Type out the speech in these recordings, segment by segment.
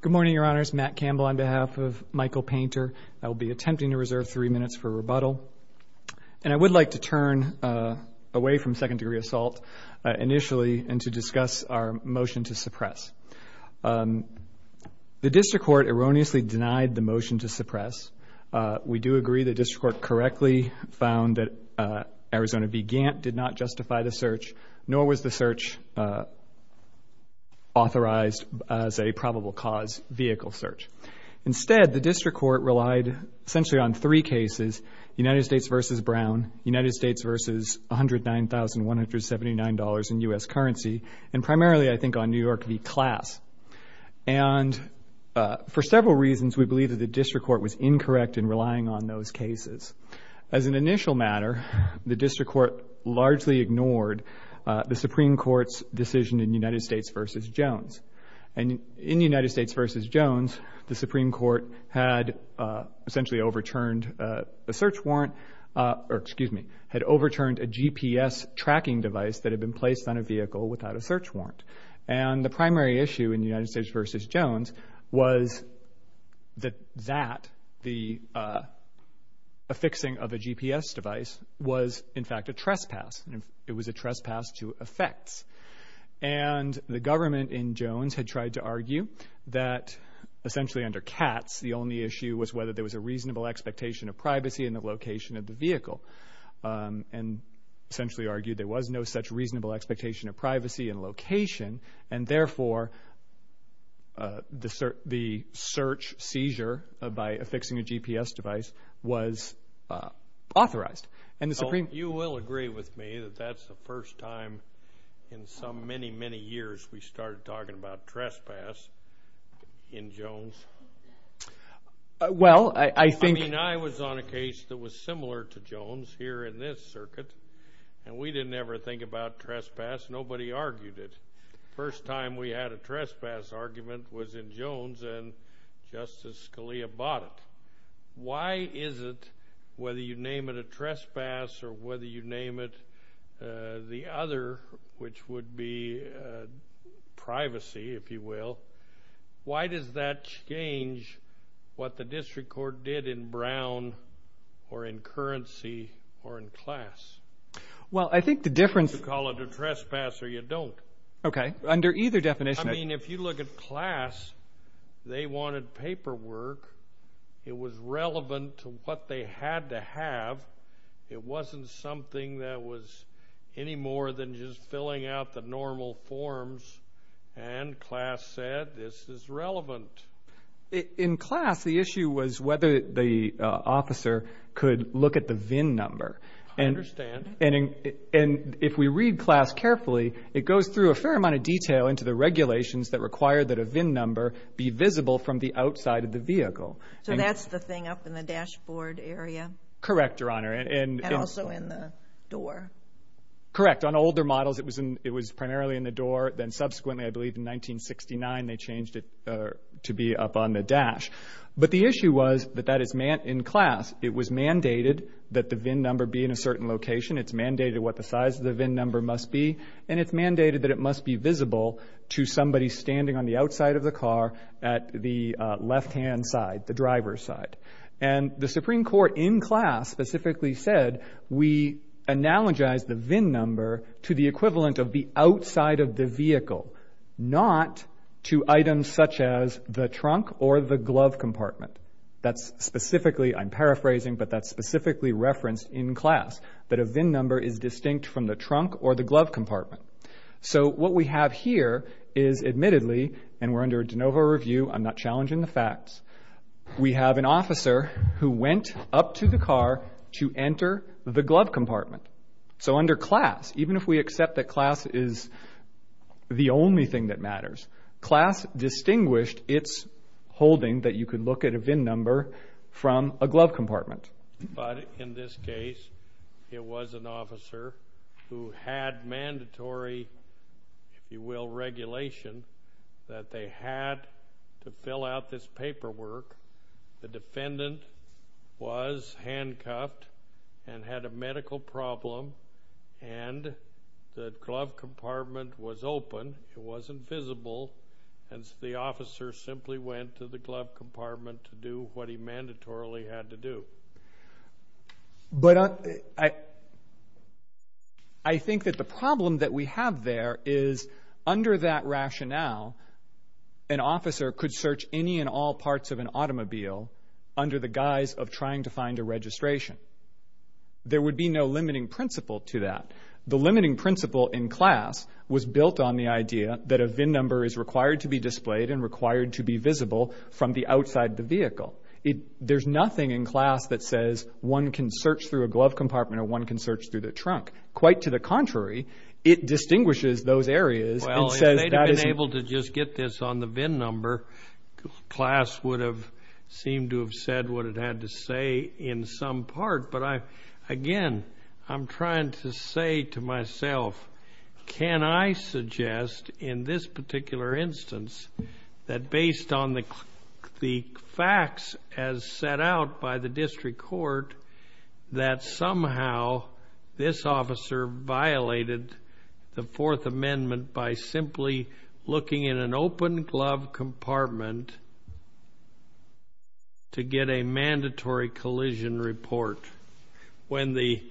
Good morning, Your Honors. Matt Campbell on behalf of Michael Painter. I will be attempting to reserve three minutes for rebuttal, and I would like to turn away from second-degree assault initially and to discuss our motion to suppress. The district court erroneously denied the motion to suppress. We do agree the district court correctly found that Arizona v. Gantt did not justify the search, authorized as a probable cause vehicle search. Instead, the district court relied essentially on three cases, United States v. Brown, United States v. $109,179 in U.S. currency, and primarily, I think, on New York v. Class. And for several reasons, we believe that the district court was incorrect in relying on those cases. As an initial matter, the district court largely ignored the Supreme Court's decision in United States v. Jones. And in United States v. Jones, the Supreme Court had essentially overturned a search warrant or, excuse me, had overturned a GPS tracking device that had been placed on a vehicle without a search warrant. And the primary issue in United States v. Jones was that the affixing of a GPS device was, in fact, a trespass. It was a trespass to effects. And the government in Jones had tried to argue that essentially under Katz, the only issue was whether there was a reasonable expectation of privacy in the location of the vehicle and essentially argued there was no such reasonable expectation of privacy in location. And therefore, the search seizure by affixing a GPS device was authorized. You will agree with me that that's the first time in so many, many years we started talking about trespass in Jones. I mean, I was on a case that was similar to Jones here in this circuit, and we didn't ever think about trespass. Nobody argued it. First time we had a trespass argument was in Jones, and Justice Scalia bought it. Why is it, whether you name it a trespass or whether you name it the other, which would be privacy, if you will, why does that change what the district court did in Brown or in Currency or in Classe? Well, I think the difference— You call it a trespass or you don't. Okay. Under either definition. I mean, if you look at Classe, they wanted paperwork. It was relevant to what they had to have. It wasn't something that was any more than just filling out the normal forms. And Classe said this is relevant. In Classe, the issue was whether the officer could look at the VIN number. I understand. And if we read Classe carefully, it goes through a fair amount of detail into the regulations that require that a VIN number be visible from the outside of the vehicle. So that's the thing up in the dashboard area? Correct, Your Honor. And also in the door? Correct. In fact, on older models, it was primarily in the door. Then subsequently, I believe in 1969, they changed it to be up on the dash. But the issue was that that is in Classe. It was mandated that the VIN number be in a certain location. It's mandated what the size of the VIN number must be. And it's mandated that it must be visible to somebody standing on the outside of the car at the left-hand side, the driver's side. And the Supreme Court in Classe specifically said we analogize the VIN number to the equivalent of the outside of the vehicle, not to items such as the trunk or the glove compartment. That's specifically, I'm paraphrasing, but that's specifically referenced in Classe, that a VIN number is distinct from the trunk or the glove compartment. So what we have here is admittedly, and we're under a de novo review. I'm not challenging the facts. We have an officer who went up to the car to enter the glove compartment. So under Classe, even if we accept that Classe is the only thing that matters, Classe distinguished its holding that you could look at a VIN number from a glove compartment. But in this case, it was an officer who had mandatory, if you will, regulation that they had to fill out this paperwork. The defendant was handcuffed and had a medical problem, and the glove compartment was open. It wasn't visible, and the officer simply went to the glove compartment to do what he mandatorily had to do. But I think that the problem that we have there is under that rationale, an officer could search any and all parts of an automobile under the guise of trying to find a registration. There would be no limiting principle to that. The limiting principle in Classe was built on the idea that a VIN number is required to be displayed and required to be visible from the outside of the vehicle. There's nothing in Classe that says one can search through a glove compartment or one can search through the trunk. Quite to the contrary, it distinguishes those areas. Well, if they'd have been able to just get this on the VIN number, Classe would have seemed to have said what it had to say in some part. But again, I'm trying to say to myself, can I suggest in this particular instance that based on the facts as set out by the district court, that somehow this officer violated the Fourth Amendment by simply looking in an open glove compartment to get a mandatory collision report when the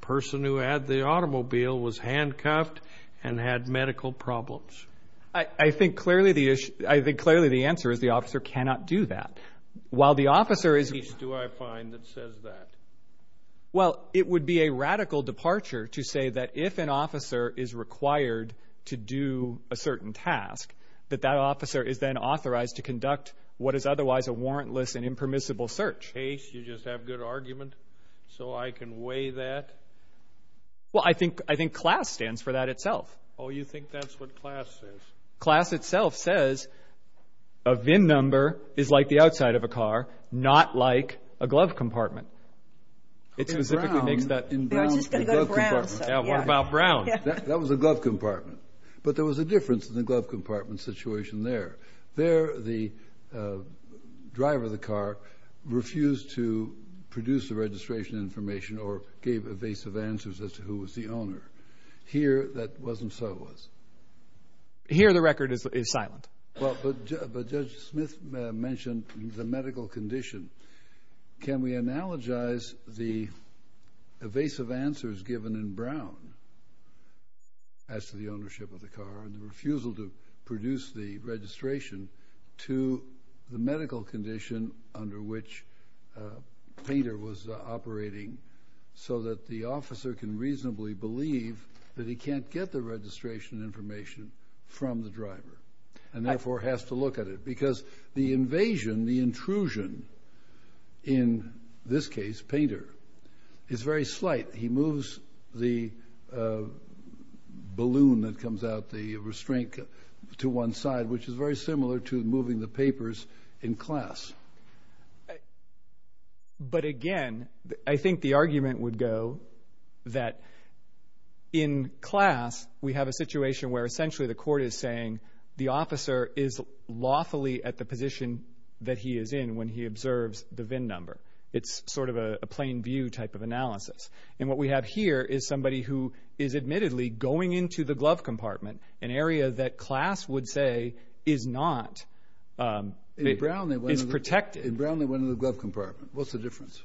person who had the automobile was handcuffed and had medical problems? I think clearly the answer is the officer cannot do that. What case do I find that says that? Well, it would be a radical departure to say that if an officer is required to do a certain task, that that officer is then authorized to conduct what is otherwise a warrantless and impermissible search. You just have good argument, so I can weigh that? Well, I think Classe stands for that itself. Oh, you think that's what Classe says? Classe itself says a VIN number is like the outside of a car, not like a glove compartment. It specifically makes that... We were just going to go to Brown. Yeah, what about Brown? That was a glove compartment. But there was a difference in the glove compartment situation there. There the driver of the car refused to produce the registration information or gave evasive answers as to who was the owner. Here that wasn't so. Here the record is silent. But Judge Smith mentioned the medical condition. Can we analogize the evasive answers given in Brown as to the ownership of the car and the refusal to produce the registration to the medical condition under which Painter was operating so that the officer can reasonably believe that he can't get the registration information from the driver and therefore has to look at it? Because the invasion, the intrusion in this case, Painter, is very slight. He moves the balloon that comes out, the restraint, to one side, which is very similar to moving the papers in Classe. But again, I think the argument would go that in Classe we have a situation where essentially the court is saying the officer is lawfully at the position that he is in when he observes the VIN number. It's sort of a plain view type of analysis. And what we have here is somebody who is admittedly going into the glove compartment, an area that Classe would say is not, is protected. In Brown they went into the glove compartment. What's the difference?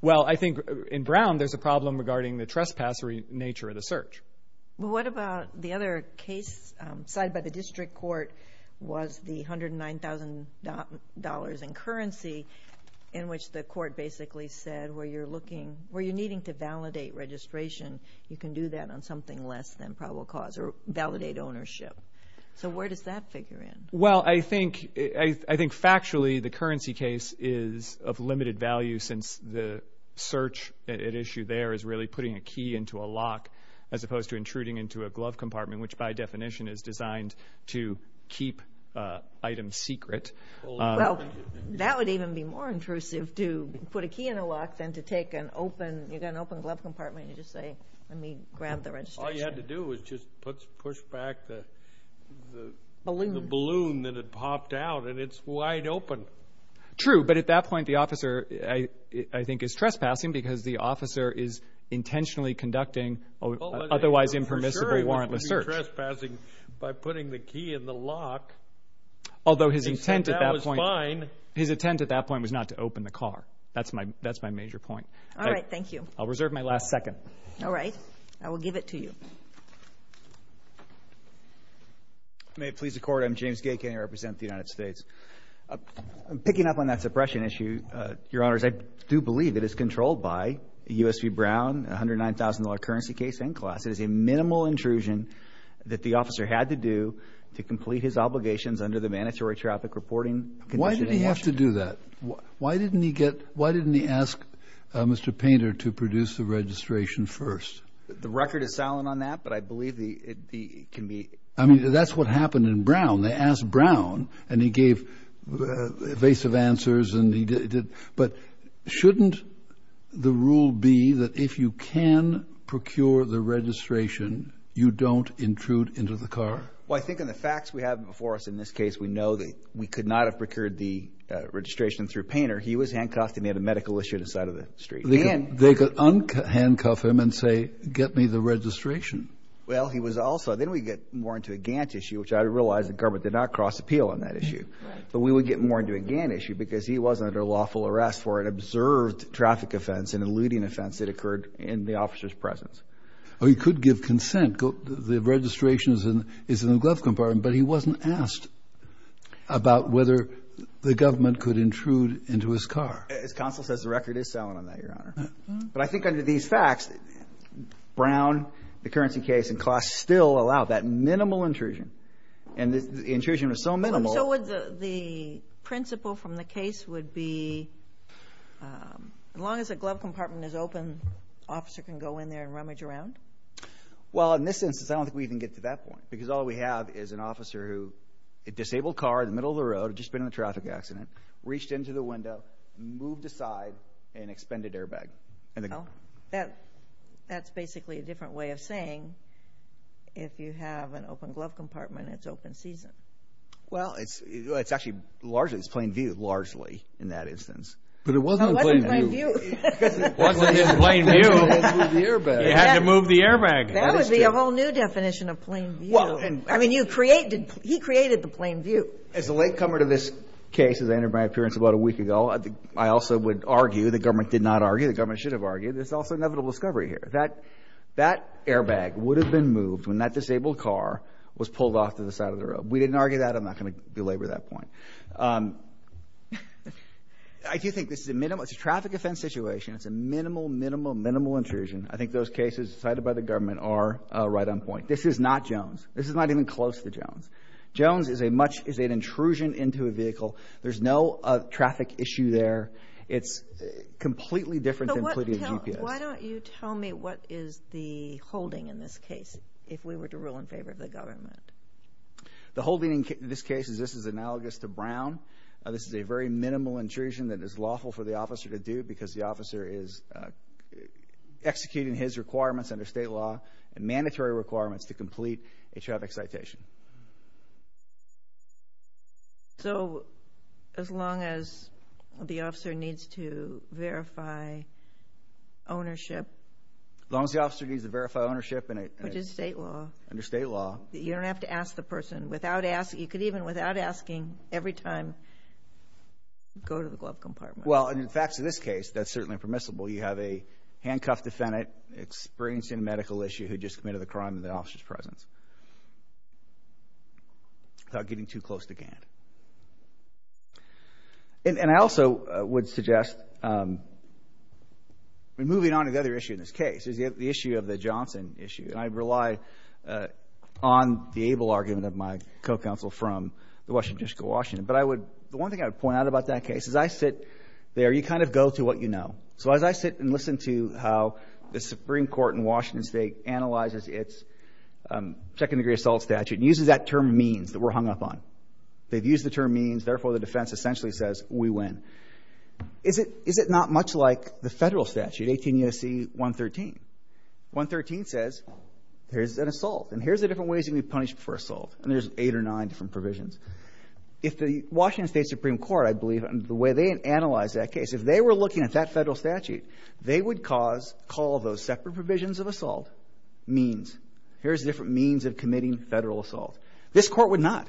Well, I think in Brown there's a problem regarding the trespassery nature of the search. What about the other case side by the district court was the $109,000 in currency in which the court basically said where you're looking, where you're needing to validate registration, you can do that on something less than probable cause or validate ownership. So where does that figure in? Well, I think factually the currency case is of limited value since the search at issue there is really putting a key into a lock as opposed to intruding into a glove compartment, which by definition is designed to keep items secret. Well, that would even be more intrusive to put a key in a lock than to take an open glove compartment and just say let me grab the registration. All you had to do was just push back the balloon that had popped out, and it's wide open. True, but at that point the officer I think is trespassing because the officer is intentionally conducting otherwise impermissibly warrantless search. He was trespassing by putting the key in the lock. Although his intent at that point was not to open the car. That's my major point. All right, thank you. I'll reserve my last second. All right. I will give it to you. May it please the Court. I'm James Gay. I represent the United States. Picking up on that suppression issue, Your Honors, I do believe that it's controlled by U.S.B. Brown, $109,000 currency case in class. It is a minimal intrusion that the officer had to do to complete his obligations under the mandatory traffic reporting condition. Why did he have to do that? Why didn't he ask Mr. Painter to produce the registration first? The record is silent on that, but I believe it can be. I mean, that's what happened in Brown. They asked Brown, and he gave evasive answers. But shouldn't the rule be that if you can procure the registration, you don't intrude into the car? Well, I think in the facts we have before us in this case, we know that we could not have procured the registration through Painter. He was handcuffed, and they had a medical issue on the side of the street. They could unhandcuff him and say, Get me the registration. Well, he was also. Then we get more into a Gantt issue, which I realize the government did not cross appeal on that issue. But we would get more into a Gantt issue because he was under lawful arrest for an observed traffic offense, an eluding offense that occurred in the officer's presence. Or he could give consent. The registration is in the glove compartment, but he wasn't asked about whether the government could intrude into his car. As counsel says, the record is silent on that, Your Honor. But I think under these facts, Brown, the currency case, and Kloss still allowed that minimal intrusion. And the intrusion was so minimal. And so the principle from the case would be as long as the glove compartment is open, the officer can go in there and rummage around? Well, in this instance, I don't think we even get to that point because all we have is an officer who, a disabled car in the middle of the road, had just been in a traffic accident, reached into the window, moved aside, and expended airbag. That's basically a different way of saying if you have an open glove compartment, it's open season. Well, it's actually largely, it's plain view, largely, in that instance. But it wasn't plain view. It wasn't just plain view. You had to move the airbag. You had to move the airbag. That would be a whole new definition of plain view. I mean, he created the plain view. As a latecomer to this case, as I entered my appearance about a week ago, I also would argue, the government did not argue, the government should have argued, there's also inevitable discovery here. That airbag would have been moved when that disabled car was pulled off to the side of the road. We didn't argue that. I'm not going to belabor that point. I do think this is a minimum. It's a traffic offense situation. It's a minimal, minimal, minimal intrusion. I think those cases cited by the government are right on point. This is not Jones. This is not even close to Jones. Jones is an intrusion into a vehicle. There's no traffic issue there. It's completely different than putting a GPS. Why don't you tell me what is the holding in this case, if we were to rule in favor of the government? The holding in this case is this is analogous to Brown. This is a very minimal intrusion that is lawful for the officer to do because the officer is executing his requirements under state law and mandatory requirements to complete a traffic citation. So as long as the officer needs to verify ownership? As long as the officer needs to verify ownership. Which is state law. Under state law. You don't have to ask the person. You could even, without asking, every time go to the glove compartment. In the facts of this case, that's certainly permissible. You have a handcuffed defendant experiencing a medical issue who just committed a crime in the officer's presence. Without getting too close to Gant. And I also would suggest, moving on to the other issue in this case, is the issue of the Johnson issue. And I rely on the able argument of my co-counsel from the Washington District of Washington. But the one thing I would point out about that case is I sit there. You kind of go to what you know. So as I sit and listen to how the Supreme Court in Washington State analyzes its second degree assault statute and uses that term means that we're hung up on. They've used the term means. Therefore, the defense essentially says we win. Is it not much like the federal statute, 18 U.S.C. 113? 113 says there's an assault. And here's the different ways you can be punished for assault. And there's eight or nine different provisions. If the Washington State Supreme Court, I believe, and the way they analyze that case, if they were looking at that federal statute, they would call those separate provisions of assault means. Here's different means of committing federal assault. This court would not.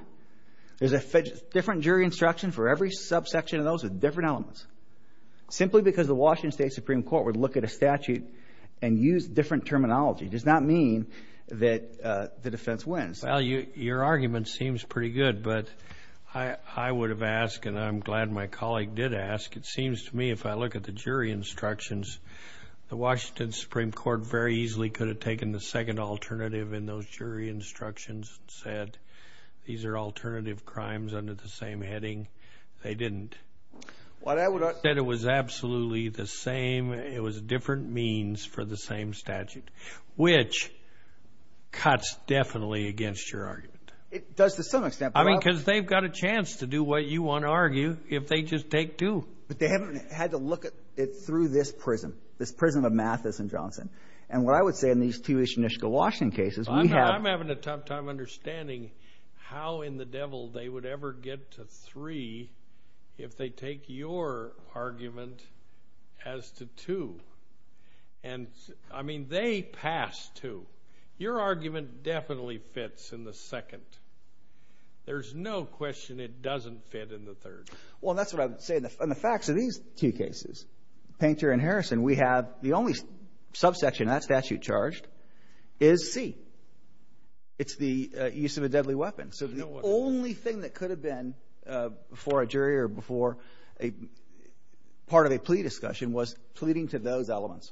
There's a different jury instruction for every subsection of those with different elements. Simply because the Washington State Supreme Court would look at a statute and use different terminology does not mean that the defense wins. Well, your argument seems pretty good. But I would have asked, and I'm glad my colleague did ask, it seems to me if I look at the jury instructions, the Washington Supreme Court very easily could have taken the second alternative in those jury instructions and said these are alternative crimes under the same heading. They didn't. Instead, it was absolutely the same. It was different means for the same statute, which cuts definitely against your argument. It does to some extent. I mean, because they've got a chance to do what you want to argue if they just take two. But they haven't had to look at it through this prism, this prism of Mathis and Johnson. And what I would say in these two Ishanushka Washington cases, we have— I'm having a tough time understanding how in the devil they would ever get to three if they take your argument as to two. And, I mean, they pass two. Your argument definitely fits in the second. There's no question it doesn't fit in the third. Well, that's what I would say in the facts of these two cases. Painter and Harrison, we have the only subsection in that statute charged is C. It's the use of a deadly weapon. So the only thing that could have been for a jury or before part of a plea discussion was pleading to those elements.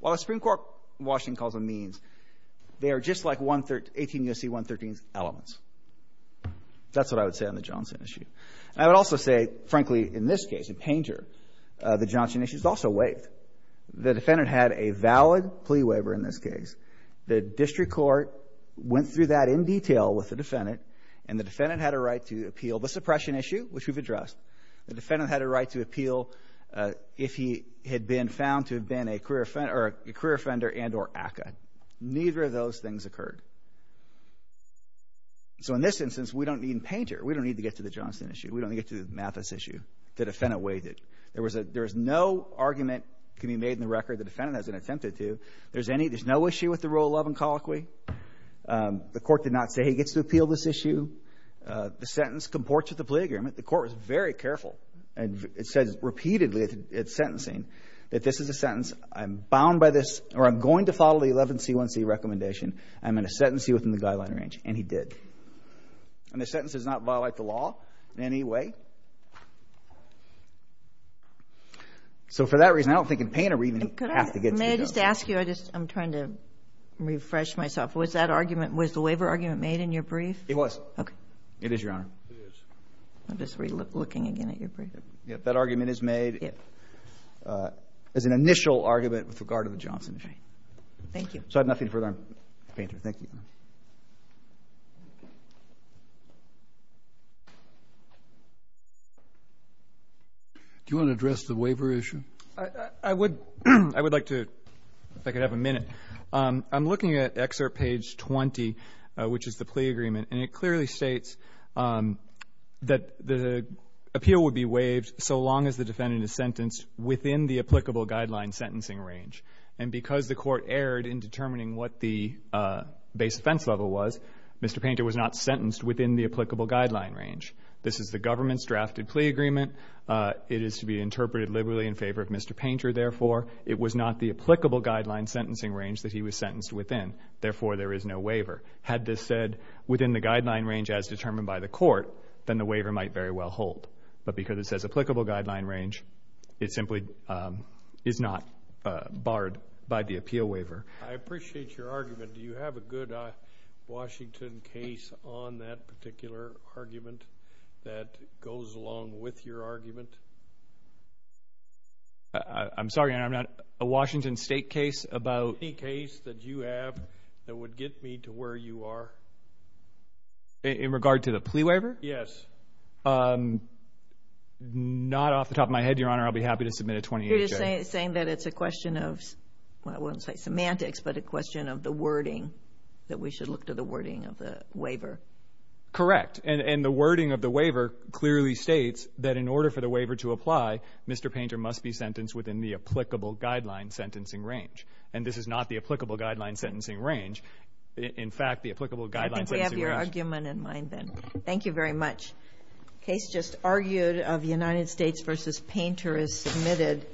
While the Supreme Court in Washington calls them means, they are just like 18 U.S.C. 113 elements. That's what I would say on the Johnson issue. And I would also say, frankly, in this case, in Painter, the Johnson issue is also waived. The defendant had a valid plea waiver in this case. The district court went through that in detail with the defendant, and the defendant had a right to appeal the suppression issue, which we've addressed. The defendant had a right to appeal if he had been found to have been a career offender and or ACCA. Neither of those things occurred. So in this instance, we don't need Painter. We don't need to get to the Johnson issue. We don't need to get to the Mathis issue. The defendant waived it. There is no argument can be made in the record the defendant hasn't attempted to. There's no issue with the rule of love and colloquy. The court did not say he gets to appeal this issue. The sentence comports with the plea agreement. The court was very careful, and it says repeatedly at sentencing that this is a sentence, I'm bound by this, or I'm going to follow the 11C1C recommendation. I'm going to sentence you within the guideline range, and he did. And the sentence does not violate the law in any way. So for that reason, I don't think in Painter we even have to get to the Johnson issue. May I just ask you, I'm trying to refresh myself. Was that argument, was the waiver argument made in your brief? It was. Okay. It is, Your Honor. It is. I'm just re-looking again at your brief. That argument is made as an initial argument with regard to the Johnson issue. Thank you. So I have nothing further on Painter. Thank you. Do you want to address the waiver issue? I would like to, if I could have a minute. I'm looking at excerpt page 20, which is the plea agreement. And it clearly states that the appeal would be waived so long as the defendant is sentenced within the applicable guideline sentencing range. And because the Court erred in determining what the base offense level was, Mr. Painter was not sentenced within the applicable guideline range. This is the government's drafted plea agreement. It is to be interpreted liberally in favor of Mr. Painter, therefore. It was not the applicable guideline sentencing range that he was sentenced within. Therefore, there is no waiver. Had this said within the guideline range as determined by the Court, then the waiver might very well hold. But because it says applicable guideline range, it simply is not barred by the appeal waiver. I appreciate your argument. Do you have a good Washington case on that particular argument that goes along with your argument? I'm sorry, Your Honor, I'm not. A Washington State case about? Any case that you have that would get me to where you are. In regard to the plea waiver? Yes. Not off the top of my head, Your Honor. I'll be happy to submit a 20-year charge. You're just saying that it's a question of, well, I won't say semantics, but a question of the wording, that we should look to the wording of the waiver. Correct. And the wording of the waiver clearly states that in order for the waiver to apply, Mr. Painter must be sentenced within the applicable guideline sentencing range. And this is not the applicable guideline sentencing range. In fact, the applicable guideline sentencing range. I think we have your argument in mind then. Thank you very much. Case just argued of United States v. Painter is submitted.